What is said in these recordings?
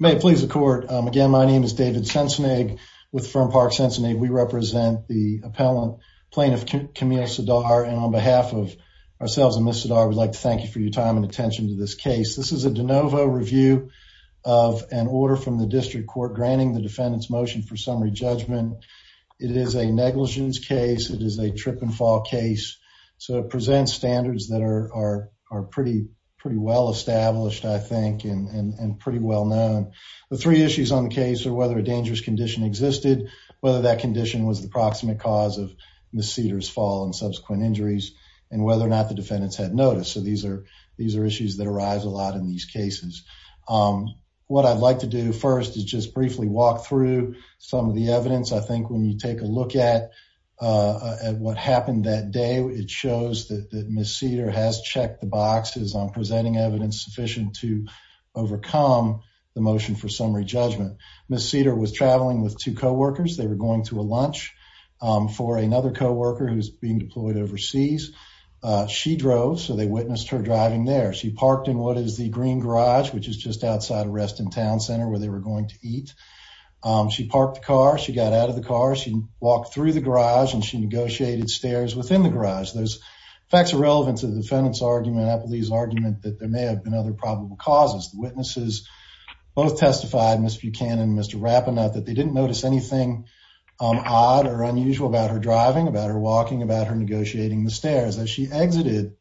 May it please the court. Again, my name is David Cincinnig with Fern Park Cincinnig. We represent the appellant plaintiff Camille Sedar and on behalf of ourselves and Ms. Sedar, I would like to thank you for your time and attention to this case. This is a de novo review of an order from the district court granting the defendant's motion for summary judgment. It is a negligence case. It is a trip and fall case, so it presents standards that are pretty well established, I think, and pretty well known. The three issues on the case are whether a dangerous condition existed, whether that condition was the proximate cause of Ms. Sedar's fall and subsequent injuries, and whether or not the defendants had notice. So these are issues that arise a lot in these cases. What I'd like to do first is just briefly walk through some of the evidence. I think when you take a look at what happened that day, it shows that Ms. Sedar has checked the boxes on presenting evidence sufficient to overcome the motion for summary judgment. Ms. Sedar was traveling with two co-workers. They were going to a lunch for another co-worker who's being deployed overseas. She drove, so they witnessed her driving there. She parked in what is the green garage, which is just outside of Reston Town Center, where they were going to eat. She parked the car, she got out of the car, she walked through the garage, and she negotiated stares within the garage. There's some facts irrelevant to the defendant's argument, Appleby's argument, that there may have been other probable causes. The witnesses both testified, Ms. Buchanan and Mr. Rapunov, that they didn't notice anything odd or unusual about her driving, about her walking, about her negotiating the stares. As she exited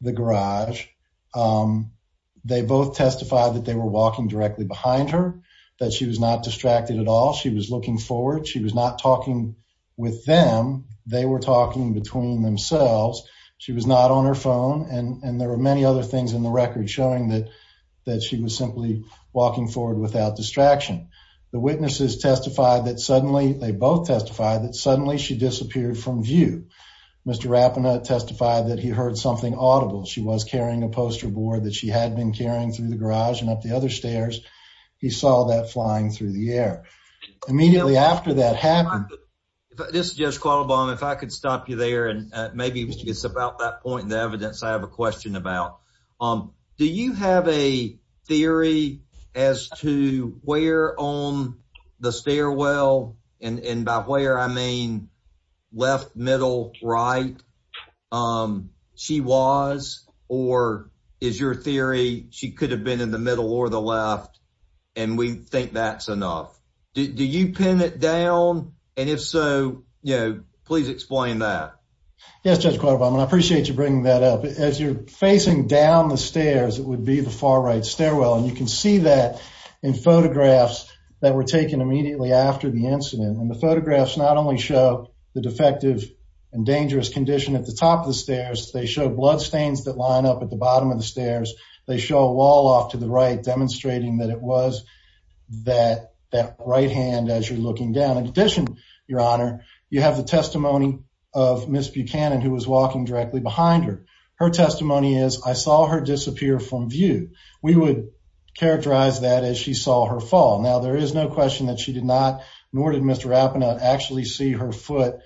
the garage, they both testified that they were walking directly behind her, that she was not distracted at all, she was looking forward, she was not talking with them, they were talking between themselves, she was not on her phone, and there were many other things in the record showing that she was simply walking forward without distraction. The witnesses testified that suddenly, they both testified, that suddenly she disappeared from view. Mr. Rapunov testified that he heard something audible. She was carrying a poster board that she had been carrying through the garage and up the other stairs. He saw that flying through the This is Judge Qualabong. If I could stop you there, and maybe it's about that point in the evidence I have a question about. Do you have a theory as to where on the stairwell, and by where, I mean left, middle, right, she was, or is your theory she could have been in the middle or the So, you know, please explain that. Yes, Judge Qualabong, I appreciate you bringing that up. As you're facing down the stairs, it would be the far right stairwell, and you can see that in photographs that were taken immediately after the incident, and the photographs not only show the defective and dangerous condition at the top of the stairs, they show bloodstains that line up at the bottom of the stairs, they show a wall off to the right demonstrating that it was that right hand as you're looking down. In addition, Your Honor, you have the testimony of Ms. Buchanan, who was walking directly behind her. Her testimony is, I saw her disappear from view. We would characterize that as she saw her fall. Now, there is no question that she did not, nor did Mr. Appenaut, actually see her foot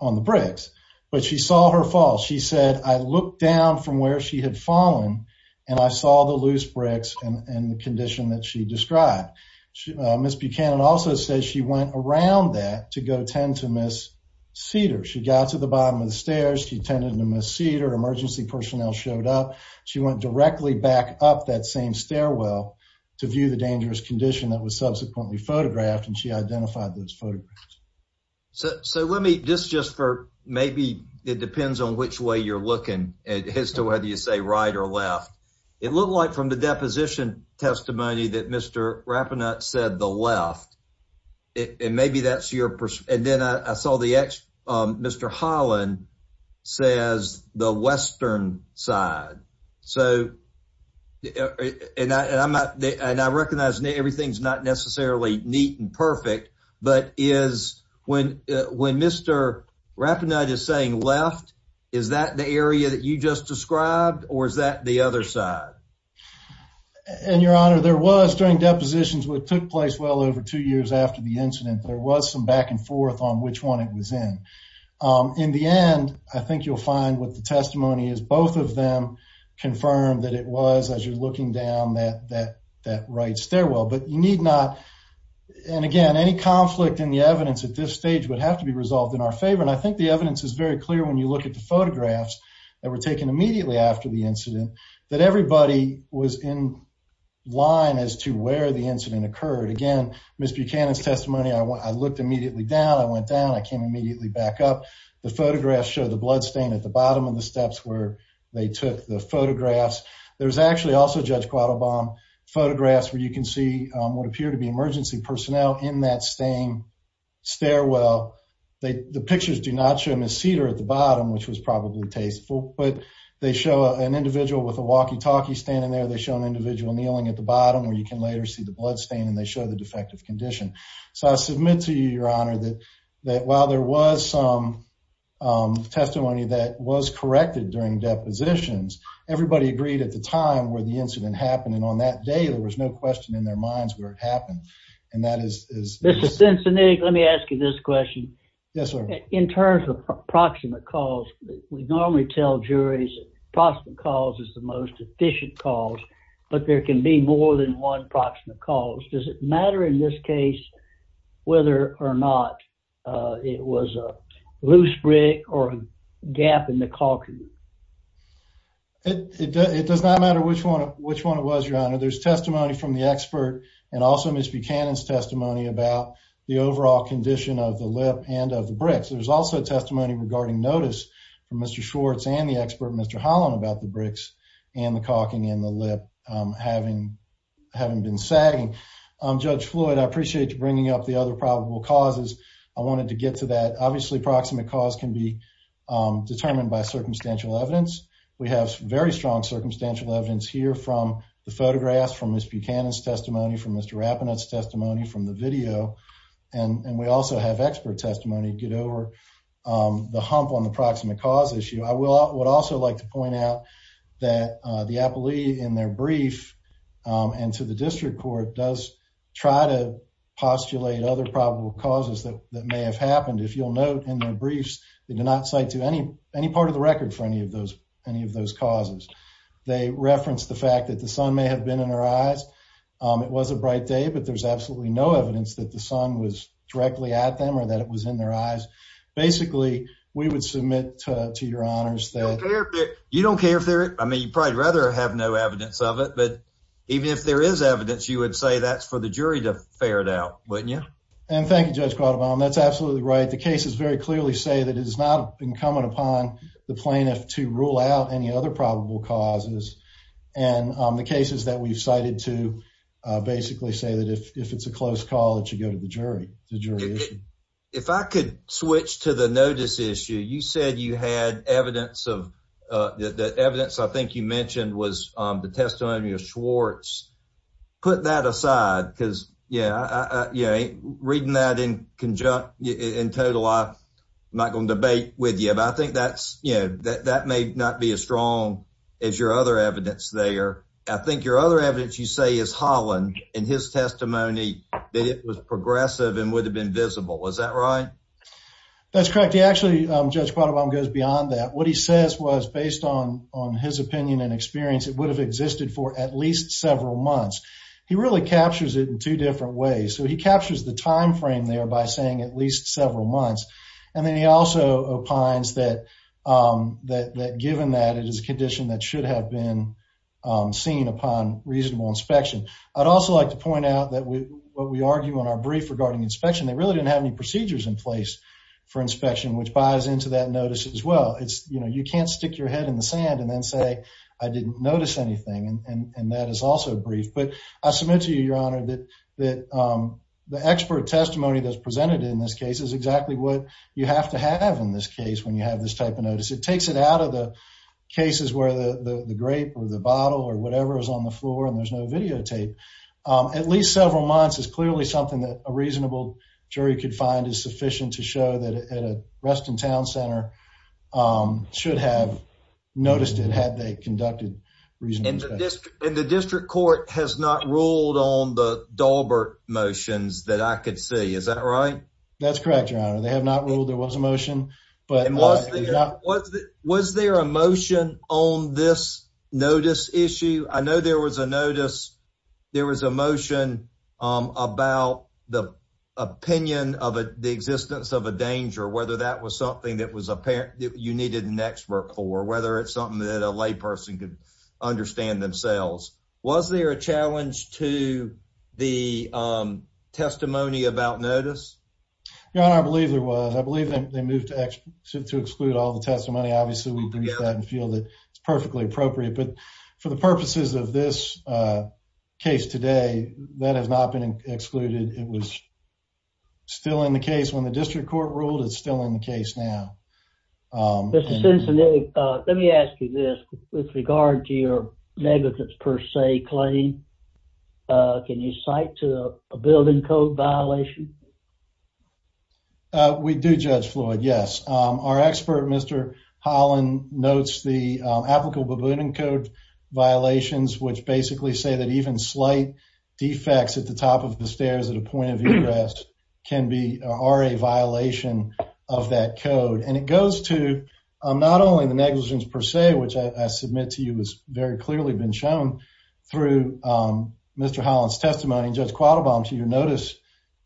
on the bricks, but she saw her fall. She said, I looked down from where she had fallen, and I saw the loose bricks and the condition that she described. Ms. Buchanan also says she went around that to go tend to Ms. Cedar. She got to the bottom of the stairs. She tended to Ms. Cedar. Emergency personnel showed up. She went directly back up that same stairwell to view the dangerous condition that was subsequently photographed, and she identified those photographs. So let me, just just for, maybe it depends on which way you're looking as to whether you say right or left. It looked like from the deposition testimony that Mr. Rappanut said the left, and maybe that's your, and then I saw the, Mr. Holland says the western side. So, and I recognize everything's not necessarily neat and perfect, but is when when Mr. Rappanut is saying left, is that the area that you just described, or is that the other side? And your honor, there was during depositions, what took place well over two years after the incident, there was some back and forth on which one it was in. In the end, I think you'll find what the testimony is. Both of them confirmed that it was, as you're looking down, that that that right stairwell. But you need not, and again, any conflict in the evidence at this stage would have to be resolved in our favor. And I think the evidence is very clear when you look at the photographs that were taken immediately after the incident, that everybody was in line as to where the incident occurred. Again, Ms. Buchanan's testimony, I looked immediately down, I went down, I came immediately back up. The photographs show the bloodstain at bottom of the steps where they took the photographs. There's actually also, Judge Quattlebaum, photographs where you can see what appear to be emergency personnel in that same stairwell. The pictures do not show Ms. Cedar at the bottom, which was probably tasteful, but they show an individual with a walkie-talkie standing there. They show an individual kneeling at the bottom, where you can later see the bloodstain, and they show the defective condition. So I submit to you, Your Honor, that while there was some testimony that was corrected during depositions, everybody agreed at the time where the incident happened, and on that day, there was no question in their minds where it happened. And that is... Mr. Cincinnati, let me ask you this question. Yes, sir. In terms of proximate cause, we normally tell juries proximate cause is the most efficient cause, but there can be more than one proximate cause. Does it matter in this case whether or not it was a loose brick or a gap in the caulking? It does not matter which one it was, Your Honor. There's testimony from the expert and also Ms. Buchanan's testimony about the overall condition of the lip and of the bricks. There's also testimony regarding notice from Mr. Schwartz and the expert, Mr. Holland, about the bricks and the caulking in the lip having been sagging. Judge Floyd, I appreciate you bringing up the other probable causes. I wanted to get to that. Obviously, proximate cause can be determined by circumstantial evidence. We have very strong circumstantial evidence here from the photographs, from Ms. Buchanan's testimony, from Mr. Rapinoe's testimony, from the video, and we also have expert testimony to get over the hump on the proximate cause issue. I would like to point out that the appellee in their brief and to the district court does try to postulate other probable causes that may have happened. If you'll note in their briefs, they do not cite to any part of the record for any of those causes. They reference the fact that the sun may have been in their eyes. It was a bright day, but there's absolutely no evidence that the sun was directly at them or that it was in their eyes. Basically, we would submit to your honors that... You don't care if they're... I mean, you'd probably rather have no evidence of it, but even if there is evidence, you would say that's for the jury to ferret out, wouldn't you? And thank you, Judge Quattlebaum. That's absolutely right. The cases very clearly say that it is not incumbent upon the plaintiff to rule out any other probable causes, and the cases that we've cited to basically say that if it's a close call, it should go to the evidence. The evidence I think you mentioned was the testimony of Schwartz. Put that aside because reading that in total, I'm not going to debate with you, but I think that may not be as strong as your other evidence there. I think your other evidence you say is Holland and his testimony that it was progressive and would have been visible. Is that right? That's correct. Actually, Judge Quattlebaum goes beyond that. What he says was based on his opinion and experience, it would have existed for at least several months. He really captures it in two different ways. So he captures the timeframe there by saying at least several months, and then he also opines that given that, it is a condition that should have been seen upon reasonable inspection. I'd also like to point out that what we argue on our brief regarding inspection, they really didn't have any procedures in place for inspection, which buys into that notice as well. You can't stick your head in the sand and then say, I didn't notice anything, and that is also brief. But I submit to you, Your Honor, that the expert testimony that's presented in this case is exactly what you have to have in this case when you have this type of notice. It takes it out of the cases where the grape or the bottle or whatever is on the floor and there's no videotape. At least several months is clearly something that a reasonable jury could find is sufficient to show that at a Reston Town Center should have noticed it had they conducted reasonable inspection. And the district court has not ruled on the Dahlberg motions that I could see. Is that right? That's correct, Your Honor. They have not ruled. Was there a motion on this notice issue? I know there was a motion about the opinion of the existence of a danger, whether that was something that you needed an expert for, whether it's something that a layperson could understand themselves. Was there a challenge to the move to exclude all the testimony? Obviously, we believe that and feel that it's perfectly appropriate. But for the purposes of this case today, that has not been excluded. It was still in the case when the district court ruled. It's still in the case now. Mr. Cincinnati, let me ask you this. With regard to your negligence per se claim, can you cite to a building code violation? We do, Judge Floyd, yes. Our expert, Mr. Holland, notes the applicable building code violations, which basically say that even slight defects at the top of the stairs at a point of egress can be a violation of that code. And it goes to not only the negligence per se, which I submit to you has very clearly been shown through Mr. Holland's testimony, Judge Quattlebaum, to your notice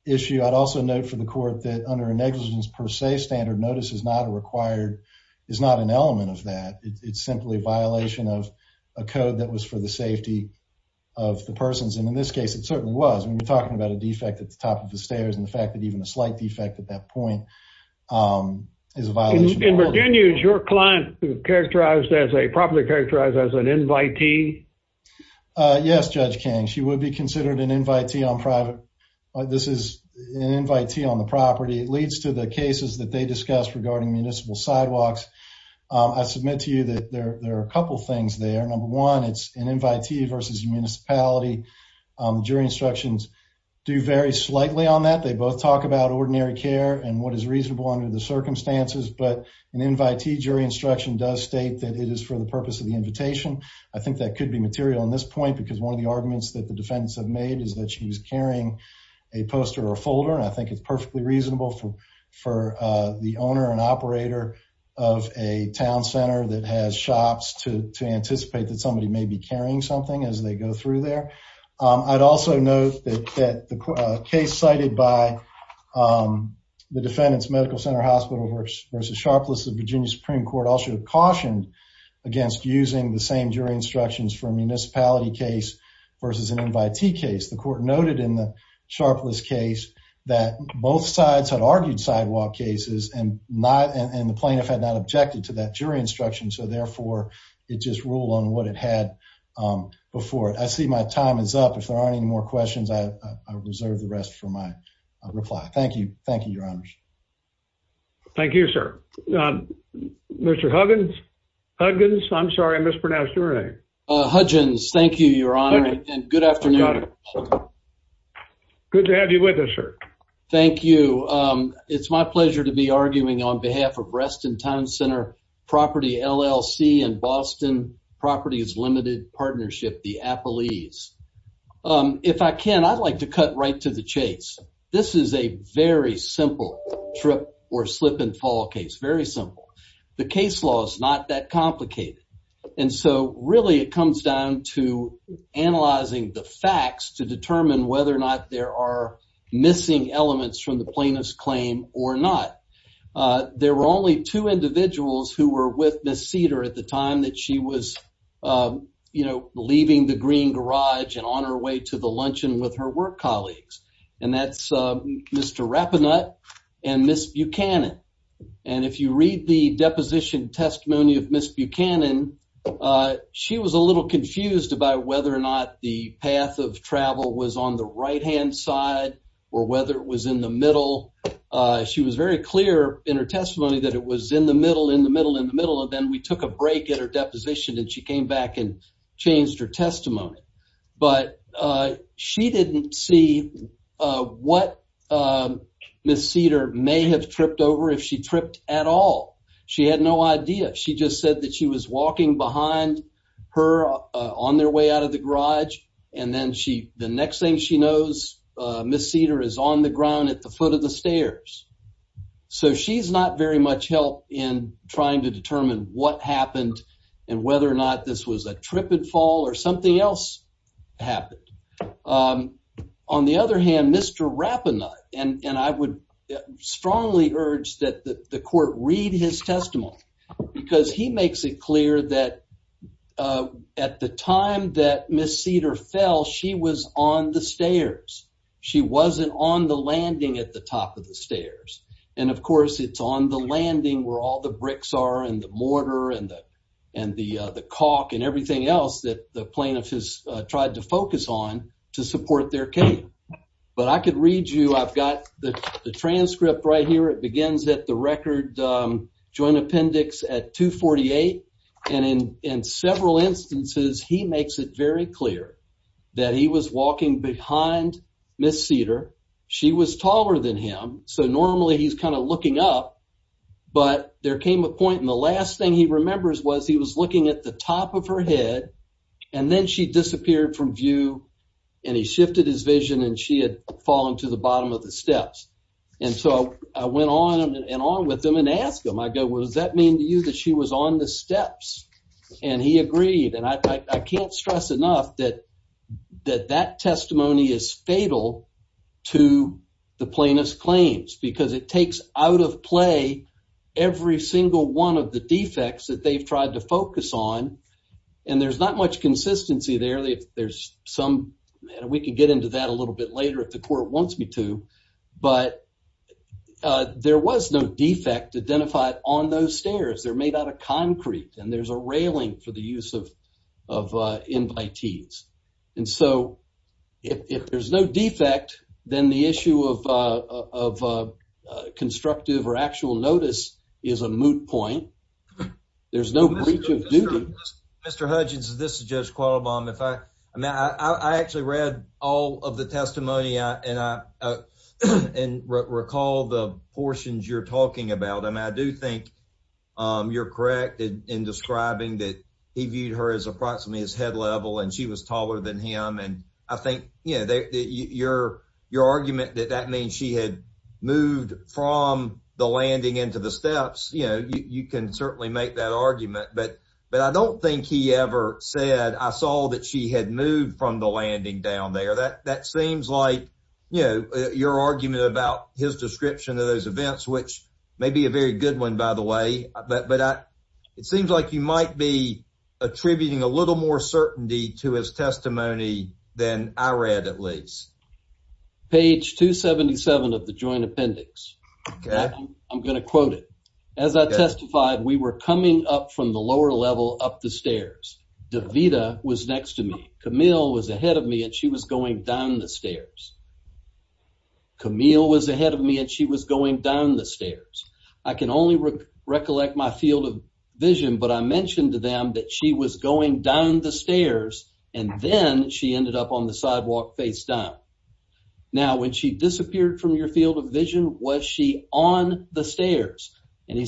issue. I'd also note for the court that under a negligence per se standard, notice is not a required, is not an element of that. It's simply a violation of a code that was for the safety of the persons. And in this case, it certainly was. When you're talking about a defect at the top of the stairs and the fact that even a slight defect at that point is a violation. In Virginia, is your client characterized as a property characterized as an invitee? Yes, Judge King, she would be considered an invitee on private. This is an invitee on the property. It leads to the cases that they discussed regarding municipal sidewalks. I submit to you that there are a couple things there. Number one, it's an invitee versus municipality. Jury instructions do vary slightly on that. They both talk about ordinary care and what is reasonable under the circumstances. But an invitee jury instruction does state that it is for the purpose of the invitation. I think that could be material in this point because one of the arguments that the defendants have made is that she was carrying a poster or folder. I think it's perfectly reasonable for the owner and operator of a town center that has shops to anticipate that somebody may be carrying something as they go through there. I'd also note that the case cited by the defendant's Medical Center Hospital versus Sharpless, the Virginia Supreme Court, also cautioned against using the same jury instructions for a municipality case versus an invitee case. The court noted in the Sharpless case that both sides had argued sidewalk cases and the plaintiff had not objected to that jury instruction. So therefore, it just ruled on what it had before. I see my time is up. If there aren't any more questions, I reserve the rest for my reply. Thank you. Thank you, Your Honor. Thank you, sir. Mr. Huggins, I'm sorry I mispronounced your name. Huggins, thank you, Your Honor, and good afternoon. Good to have you with us, sir. Thank you. It's my pleasure to be arguing on behalf of Reston Town Center Property LLC and Austin Properties Limited Partnership, the Appalese. If I can, I'd like to cut right to the chase. This is a very simple trip or slip and fall case. Very simple. The case law is not that complicated. And so really, it comes down to analyzing the facts to determine whether or not there are missing elements from the plaintiff's claim or not. There were only two individuals who were with Ms. Cedar at the time that she was, you know, leaving the Green Garage and on her way to the luncheon with her work colleagues. And that's Mr. Rappanut and Ms. Buchanan. And if you read the deposition testimony of Ms. Buchanan, she was a little confused about whether or not the path of travel was on the right-hand side or whether it was in the middle. She was very clear in her testimony that it was in the middle, in the middle, in the middle. And then we took a break at her deposition and she came back and changed her testimony. But she didn't see what Ms. Cedar may have tripped over, if she tripped at all. She had no idea. She just said that she was walking behind her on their way out of the garage. And then the next thing she knows, Ms. Cedar is on the ground at the foot of the stairs. So she's not very much help in trying to determine what happened and whether or not this was a tripped fall or something else happened. On the other hand, Mr. Rappanut, and I would strongly urge that the court read his testimony because he makes it clear that at the time that Ms. Cedar fell, she was on the stairs. She wasn't on the landing at the top of the stairs. And of course, it's on the landing where all the bricks are and the mortar and the caulk and everything else that the plaintiff has tried to focus on to support their case. But I could read you, I've got the transcript right here. It begins at the record joint appendix at 248. And in several instances, he makes it very clear that he was walking behind Ms. Cedar. She was taller than him. So normally he's kind of looking up. But there came a point and the last thing he remembers was he was looking at the top of her head. And then she disappeared from view. And he shifted his vision and she had fallen to the bottom of the steps. And so I went on and on with them and ask them, I go, what does that mean to you that she was on the steps? And he agreed. And I can't stress enough that that testimony is fatal to the plaintiff's claims because it takes out of play every single one of the defects that they've tried to focus on. And there's not much consistency there. There's some, we can get into that a little bit later if the court wants me to. But there was no defect identified on those stairs. They're made out of concrete and there's a railing for the use of invitees. And so if there's no defect, then the issue of constructive or actual notice is a moot point. There's no breach of duty. Mr. Hudgins, this is Judge Qualabong. I actually read all of the testimony and I recall the portions you're talking about. And I do think you're correct in describing that he viewed her as approximately his head level and she was taller than him. And I think your argument that that means she had moved from the landing into the steps, you can certainly make that argument. But I don't think he ever said, I saw that she had moved from the landing down there. That seems like your argument about his description of those events, which may be a very good one, by the way. But it seems like you might be attributing a little more certainty to his testimony than I read at least. Page 277 of the joint appendix. I'm going to quote it. As I testified, we were coming up from the lower level up the stairs. Davida was next to me. Camille was ahead of me and she was going down the stairs. Camille was ahead of me and she was going down the stairs. I can only recollect my field of vision, but I mentioned to them that she was going down the stairs and then she ended up on the sidewalk face down. Now, when she disappeared from your field of vision, was she on the stairs? And he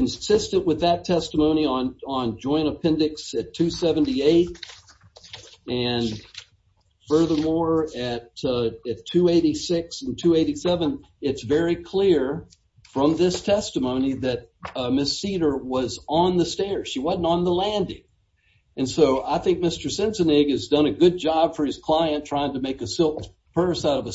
insisted with that testimony on joint appendix at 278. And furthermore, at 286 and 287, it's very clear from this testimony that Miss Cedar was on the stairs. She wasn't on the landing. And so I think Mr. Sensenig has done a good job for his client trying to make a silk purse out of a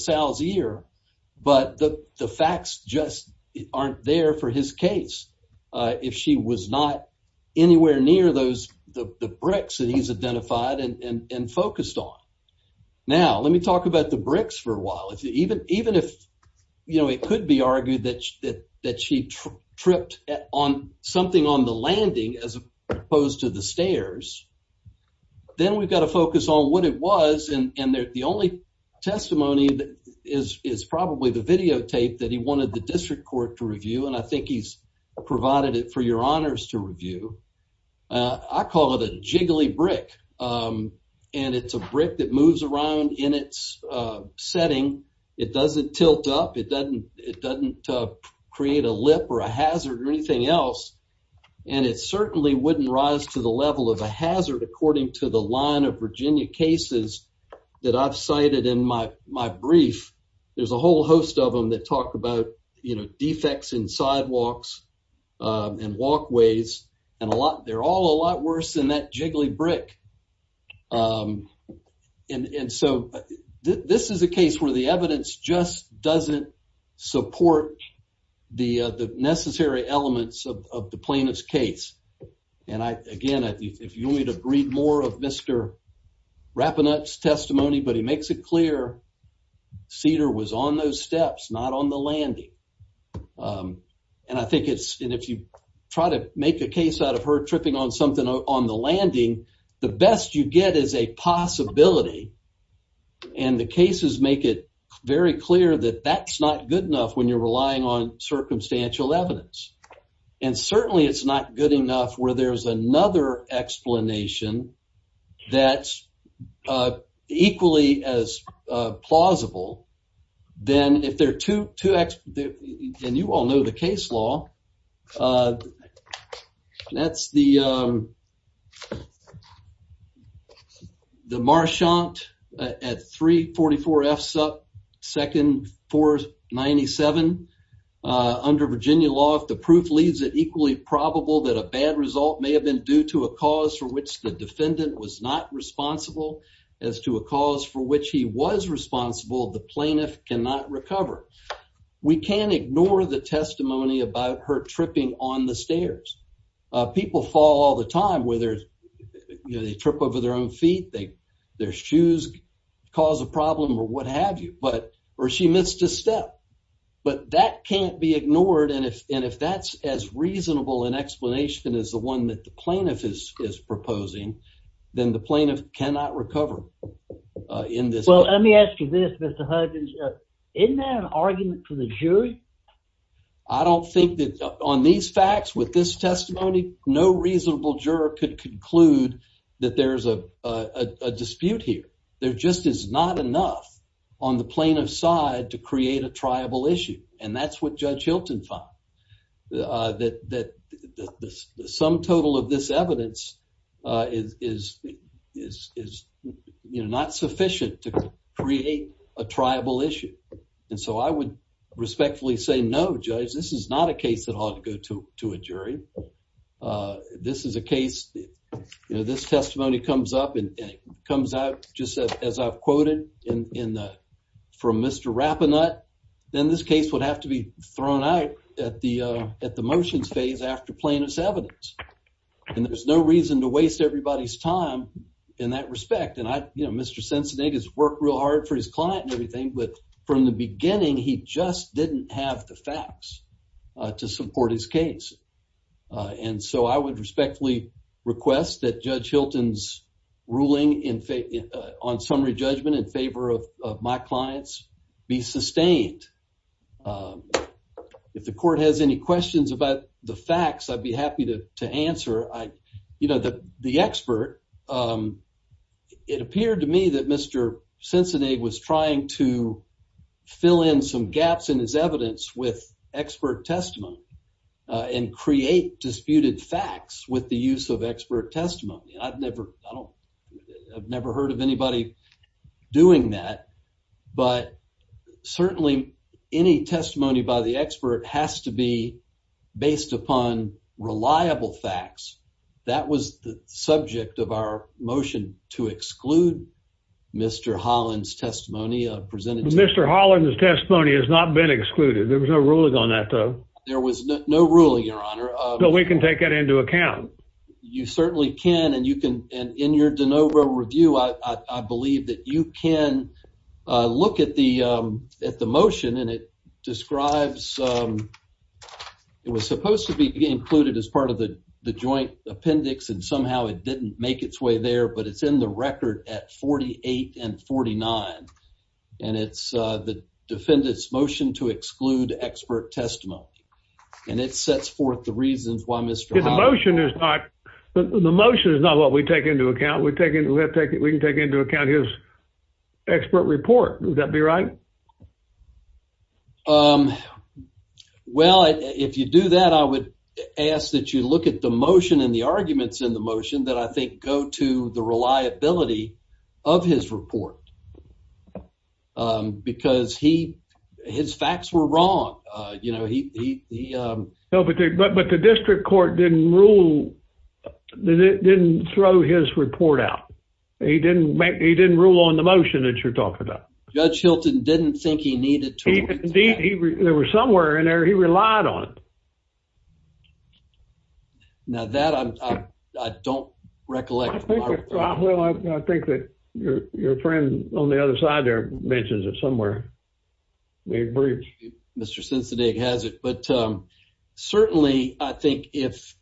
case if she was not anywhere near the bricks that he's identified and focused on. Now, let me talk about the bricks for a while. Even if it could be argued that she tripped on something on the landing as opposed to the stairs, then we've got to focus on what it was. And the only testimony is probably the videotape that he wanted the district court to review. And I think he's provided it for your honors to review. I call it a jiggly brick. And it's a brick that moves around in its setting. It doesn't tilt up. It doesn't create a lip or a hazard or anything else. And it certainly wouldn't rise to the level of a hazard according to the line of Virginia cases that I've cited in my brief. There's a whole host of them that talk about, you know, defects in sidewalks and walkways. And they're all a lot worse than that jiggly brick. And so this is a case where the evidence just doesn't support the necessary elements of the Rappanut's testimony. But he makes it clear Cedar was on those steps, not on the landing. And I think it's, and if you try to make a case out of her tripping on something on the landing, the best you get is a possibility. And the cases make it very clear that that's not good enough when you're relying on circumstantial evidence. And certainly it's not good enough where there's another explanation that's equally as plausible than if there are two, and you all know the case law, that's the Marchant at 344 F Supp, second 497. Under Virginia law, if the proof leaves it equally probable that a bad result may have been due to a cause for which the defendant was not responsible as to a cause for which he was responsible, the plaintiff cannot recover. We can't ignore the testimony about her tripping on the stairs. People fall all the time, whether you know, they trip over their own feet, their shoes cause a problem or what have you, or she missed a step. But that can't be ignored, and if that's as reasonable an explanation as the one that the plaintiff is proposing, then the plaintiff cannot recover in this case. Well, let me ask you this, Mr. Huggins. Isn't that an argument for the jury? I don't think that on these facts, with this testimony, no reasonable juror could conclude that there's a dispute here. There just is not enough on the plaintiff's side to create a triable issue, and that's what Judge Hilton found, that the sum total of this evidence is not sufficient to create a triable issue. And so I would respectfully say no, Judge, this is not a case that ought to go to a jury. This is a case, you know, this testimony comes up and it comes out just as I've quoted from Mr. Rappanut, then this case would have to be thrown out at the motions phase after plaintiff's evidence, and there's no reason to waste everybody's time in that respect. And I, you know, Mr. Cincinnati has worked real hard for his client and everything, but from the beginning, he just didn't have the facts to support his case. And so I would respectfully request that Judge Hilton's ruling on summary judgment in favor of my clients be sustained. If the court has any questions about the facts, I'd be happy to answer. You know, the expert, um, it appeared to me that Mr. Cincinnati was trying to fill in some gaps in his evidence with expert testimony, uh, and create disputed facts with the use of expert testimony. I've never, I don't, I've never heard of anybody doing that, but certainly any testimony by the expert has to be based upon reliable facts. That was the subject of our motion to exclude Mr. Holland's testimony presented. Mr. Holland's testimony has not been excluded. There was no ruling on that, though. There was no ruling, Your Honor. But we can take that into account. You certainly can, and you can, and in your de novo review, I believe that you can look at the, um, at the motion, and it describes, um, it was supposed to be included as part of the joint appendix, and somehow it didn't make its way there, but it's in the record at 48 and 49, and it's, uh, the defendant's motion to exclude expert testimony, and it sets forth the reasons why Mr. Holland... The motion is not what we take into account. We can take into account his expert report. Would that be right? Um, well, if you do that, I would ask that you look at the motion and the arguments in the motion that I think go to the reliability of his report, because he, his facts were wrong. Uh, you know, he, he, um... No, but the district court didn't rule, didn't throw his report out. He didn't make, he didn't rule on the motion that you're talking about. Judge Hilton didn't think he needed to. Indeed, there was somewhere in there he relied on. Now, that I don't recollect. Well, I think that your friend on the other side there mentions it somewhere. We agree. Mr. Sensenig has it, but, um, certainly I think if,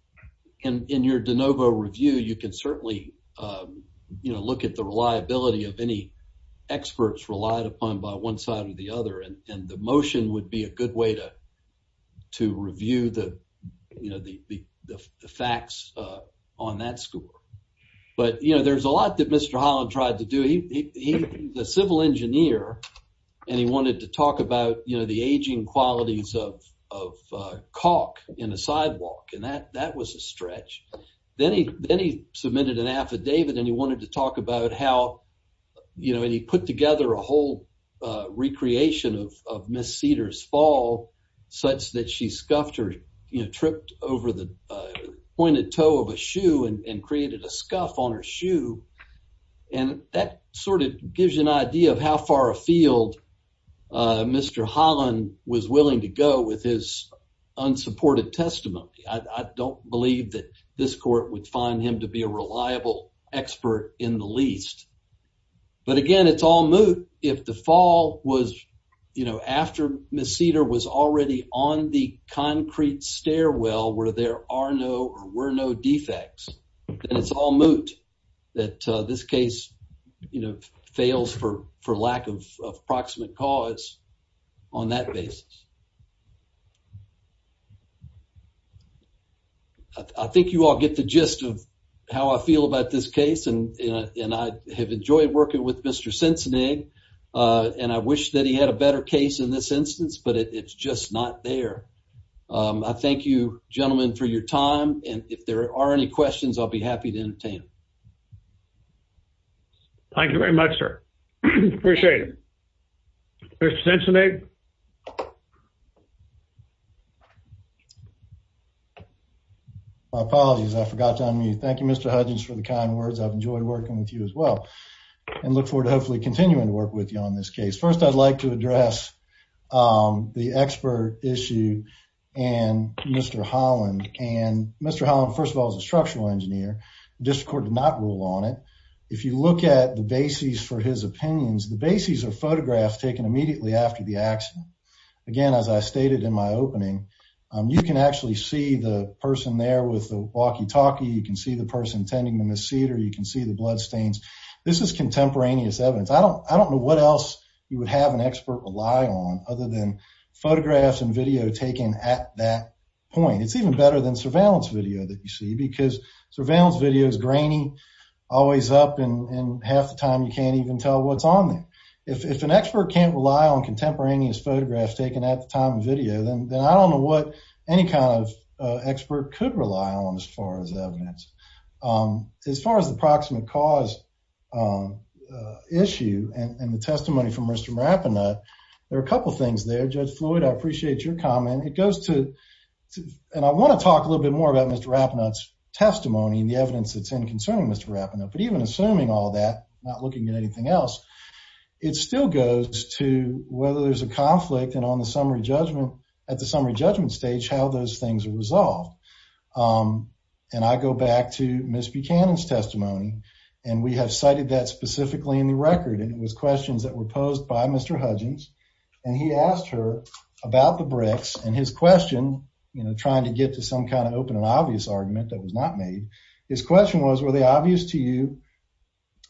in your de novo review, you can certainly, um, you know, look at the reliability of any experts relied upon by one side or the other, and the motion would be a good way to, to review the, you know, the, the facts, uh, on that score. But, you know, there's a lot that Mr. Holland tried to do. He, he, the civil engineer, and he wanted to talk about, you know, the aging qualities of, of, uh, caulk in a sidewalk, and that, that was a stretch. Then he, then he submitted an affidavit, and he wanted to talk about how, you know, and he put together a whole, uh, recreation of, of Miss Cedar's fall, such that she scuffed her, you know, tripped over the, uh, pointed toe of a shoe and, and created a scuff on her foot. I don't know how far afield, uh, Mr. Holland was willing to go with his unsupported testimony. I, I don't believe that this court would find him to be a reliable expert in the least. But again, it's all moot if the fall was, you know, after Miss Cedar was already on the concrete stairwell where there are no or were no defects, then it's all moot that, uh, this case, you know, fails for, for lack of, of proximate cause on that basis. I think you all get the gist of how I feel about this case, and, you know, and I have enjoyed working with Mr. Sensenig, uh, and I wish that he had a better case in this instance, but it's just not there. Um, I thank you, gentlemen, for your time, and if there are any questions, I'll be there. Thank you. Thank you, Mr. Hutchins, for the kind words. I've enjoyed working with you as well, and look forward to hopefully continuing to work with you on this case. First, I'd like to address, um, the expert issue and Mr. Holland, and Mr. Holland, first of all, is a structural engineer. The district court did not rule on it. If you look at the bases for his opinions, the bases are photographs taken immediately after the accident. Again, as I stated in my opening, you can actually see the person there with the walkie-talkie. You can see the person tending to Miss Cedar. You can see the bloodstains. This is contemporaneous evidence. I don't, I don't know what else you would have an expert rely on other than photographs and video taken at that point. It's even better than surveillance video that you see, because surveillance video is grainy, always up, and half the time you can't even tell what's on there. If an expert can't rely on contemporaneous photographs taken at the time of video, then I don't know what any kind of expert could rely on as far as evidence. As far as the proximate cause issue and the testimony from Mr. Marapanat, there are a couple things there. Judge goes to, and I want to talk a little bit more about Mr. Marapanat's testimony and the evidence that's in concerning Mr. Marapanat, but even assuming all that, not looking at anything else, it still goes to whether there's a conflict and on the summary judgment, at the summary judgment stage, how those things are resolved. And I go back to Miss Buchanan's testimony, and we have cited that specifically in the record, and it was questions that were posed by Mr. Hudgens, and he asked her about the bricks, and his question, you know, trying to get to some kind of open and obvious argument that was not made, his question was, were they obvious to you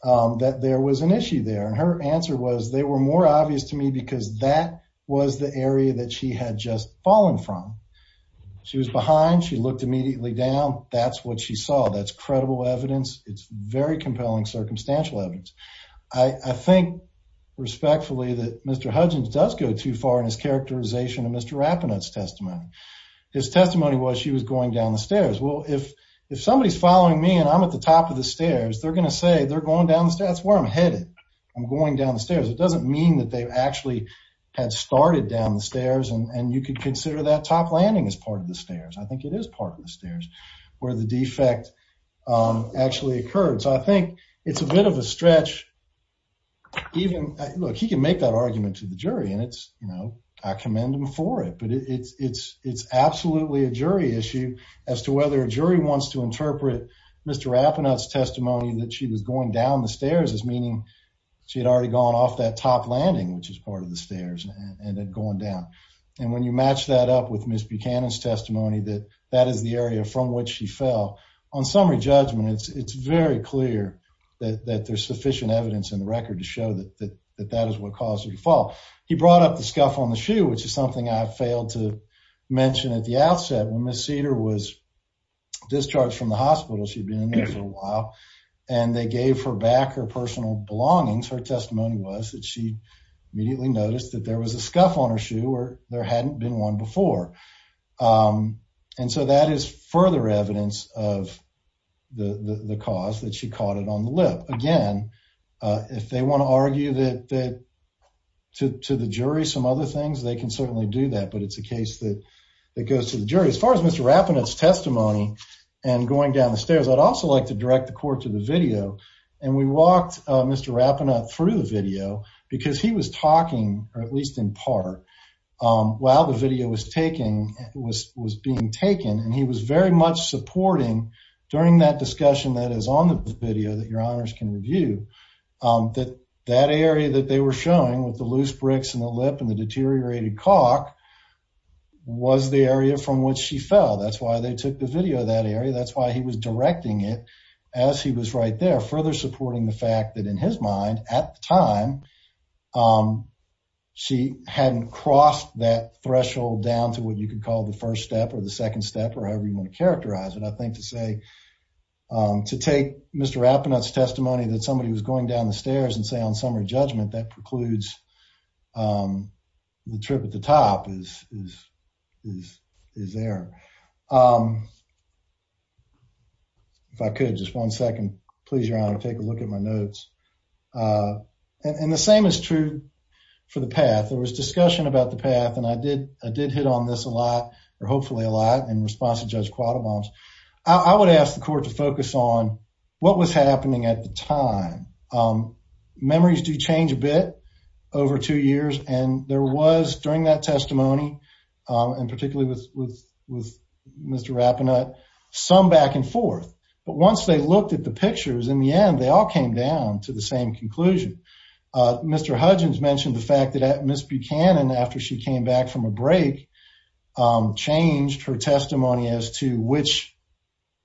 that there was an issue there? And her answer was, they were more obvious to me because that was the area that she had just fallen from. She was behind. She looked immediately down. That's what she saw. That's credible evidence. It's very compelling circumstantial evidence. I think respectfully that Mr. Hudgens does go too far in his characterization of Mr. Marapanat's testimony. His testimony was she was going down the stairs. Well, if somebody's following me and I'm at the top of the stairs, they're going to say they're going down the stairs. That's where I'm headed. I'm going down the stairs. It doesn't mean that they actually had started down the stairs, and you could consider that top landing as part of the stairs. I think it is part of the stairs where the defect actually occurred. So I think it's a bit of a stretch. Look, he can make that argument to the jury, and I commend him for it, but it's absolutely a jury issue as to whether a jury wants to interpret Mr. Marapanat's testimony that she was going down the stairs as meaning she had already gone off that top landing, which is part of the stairs, and had gone down. And when you match that up with Ms. Buchanan's testimony that that is the area from which she fell, on summary judgment, it's very clear that there's sufficient evidence in the record to show that that is what caused her to fall. He brought up the scuff on the shoe, which is something I failed to mention at the outset. When Ms. Cedar was discharged from the hospital, she'd been in there for a while, and they gave her back her personal belongings. Her testimony was that she immediately noticed that there was a scuff on her shoe where there hadn't been one before. And so that is further evidence of the cause that she caught it on the lip. Again, if they want to argue to the jury some other things, they can certainly do that, but it's a case that goes to the jury. As far as Mr. Marapanat's testimony and going down the stairs, I'd also like to direct the court to the video. And we walked Mr. Marapanat through the video because he was talking, or at least in part, while the video was being taken, and he was very much supporting during that discussion that is on the video that your honors can review, that that area that they were showing with the loose bricks and the lip and the deteriorated cock was the area from which she fell. That's why they took the video of that area. That's why he was directing it as he was right there, further supporting the fact that in his mind, at the time, she hadn't crossed that threshold down to what you could call the first step or the second step or however you want to characterize it. I think to say, to take Mr. Marapanat's testimony that somebody was going down the stairs and say on summary judgment that precludes the trip at the top is there. If I could, just one second, please, your honor, take a look at my notes. And the same is true for the path. There was discussion about the path, and I did hit on this a lot, or hopefully a lot, in response to Judge Quattlebaum. I would ask the court to focus on what was happening at the time. Memories do change a bit over two years, and there was, during that testimony, and particularly with Mr. Marapanat, some back and forth. But once they looked at the pictures, in the end, they all came down to the same conclusion. Mr. Hudgens mentioned the fact that Ms. Buchanan, after she came back from a break, changed her testimony as to which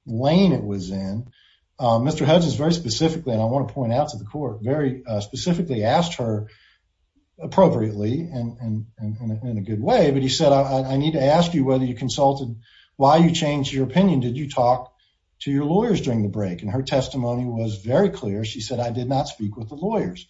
lane it was in. Mr. Hudgens very specifically, and I want to point out to the court, very specifically asked her appropriately and in a consulted, why you changed your opinion? Did you talk to your lawyers during the break? And her testimony was very clear. She said, I did not speak with the lawyers.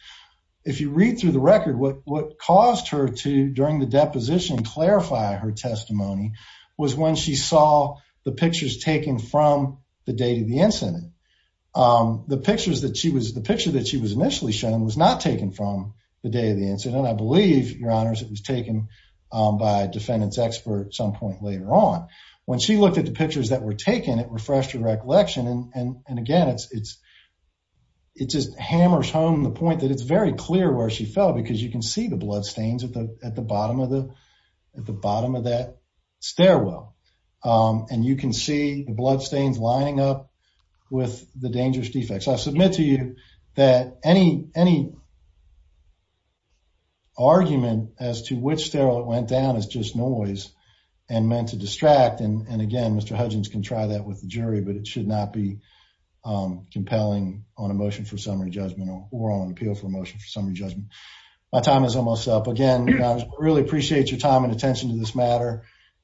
If you read through the record, what caused her to, during the deposition, clarify her testimony was when she saw the pictures taken from the date of the incident. The picture that she was initially shown was not taken from the day of the incident. I believe, your honors, it was taken by a defendant's expert some point later on. When she looked at the pictures that were taken, it refreshed her recollection. And again, it just hammers home the point that it's very clear where she fell, because you can see the blood stains at the bottom of that stairwell. And you can see the blood stains lining up with the dangerous defects. I submit to you that any argument as to which it went down is just noise and meant to distract. And again, Mr. Hudgens can try that with the jury, but it should not be compelling on a motion for summary judgment or on appeal for a motion for summary judgment. My time is almost up. Again, I really appreciate your time and attention to this matter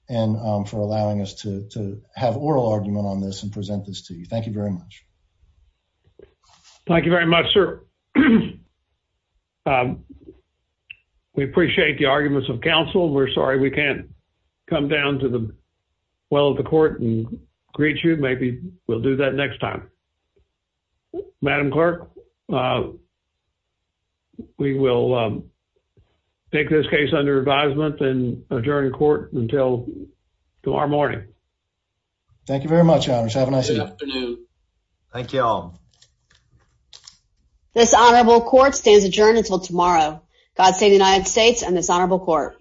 and for allowing us to have oral argument on this and present this to you. Thank you very much, sir. We appreciate the arguments of counsel. We're sorry we can't come down to the well of the court and greet you. Maybe we'll do that next time. Madam Clerk, we will take this case under advisement and adjourn court until tomorrow morning. Thank you very much. Have a nice afternoon. Thank you all. This honorable court stands adjourned until tomorrow. God save the United States and this honorable court.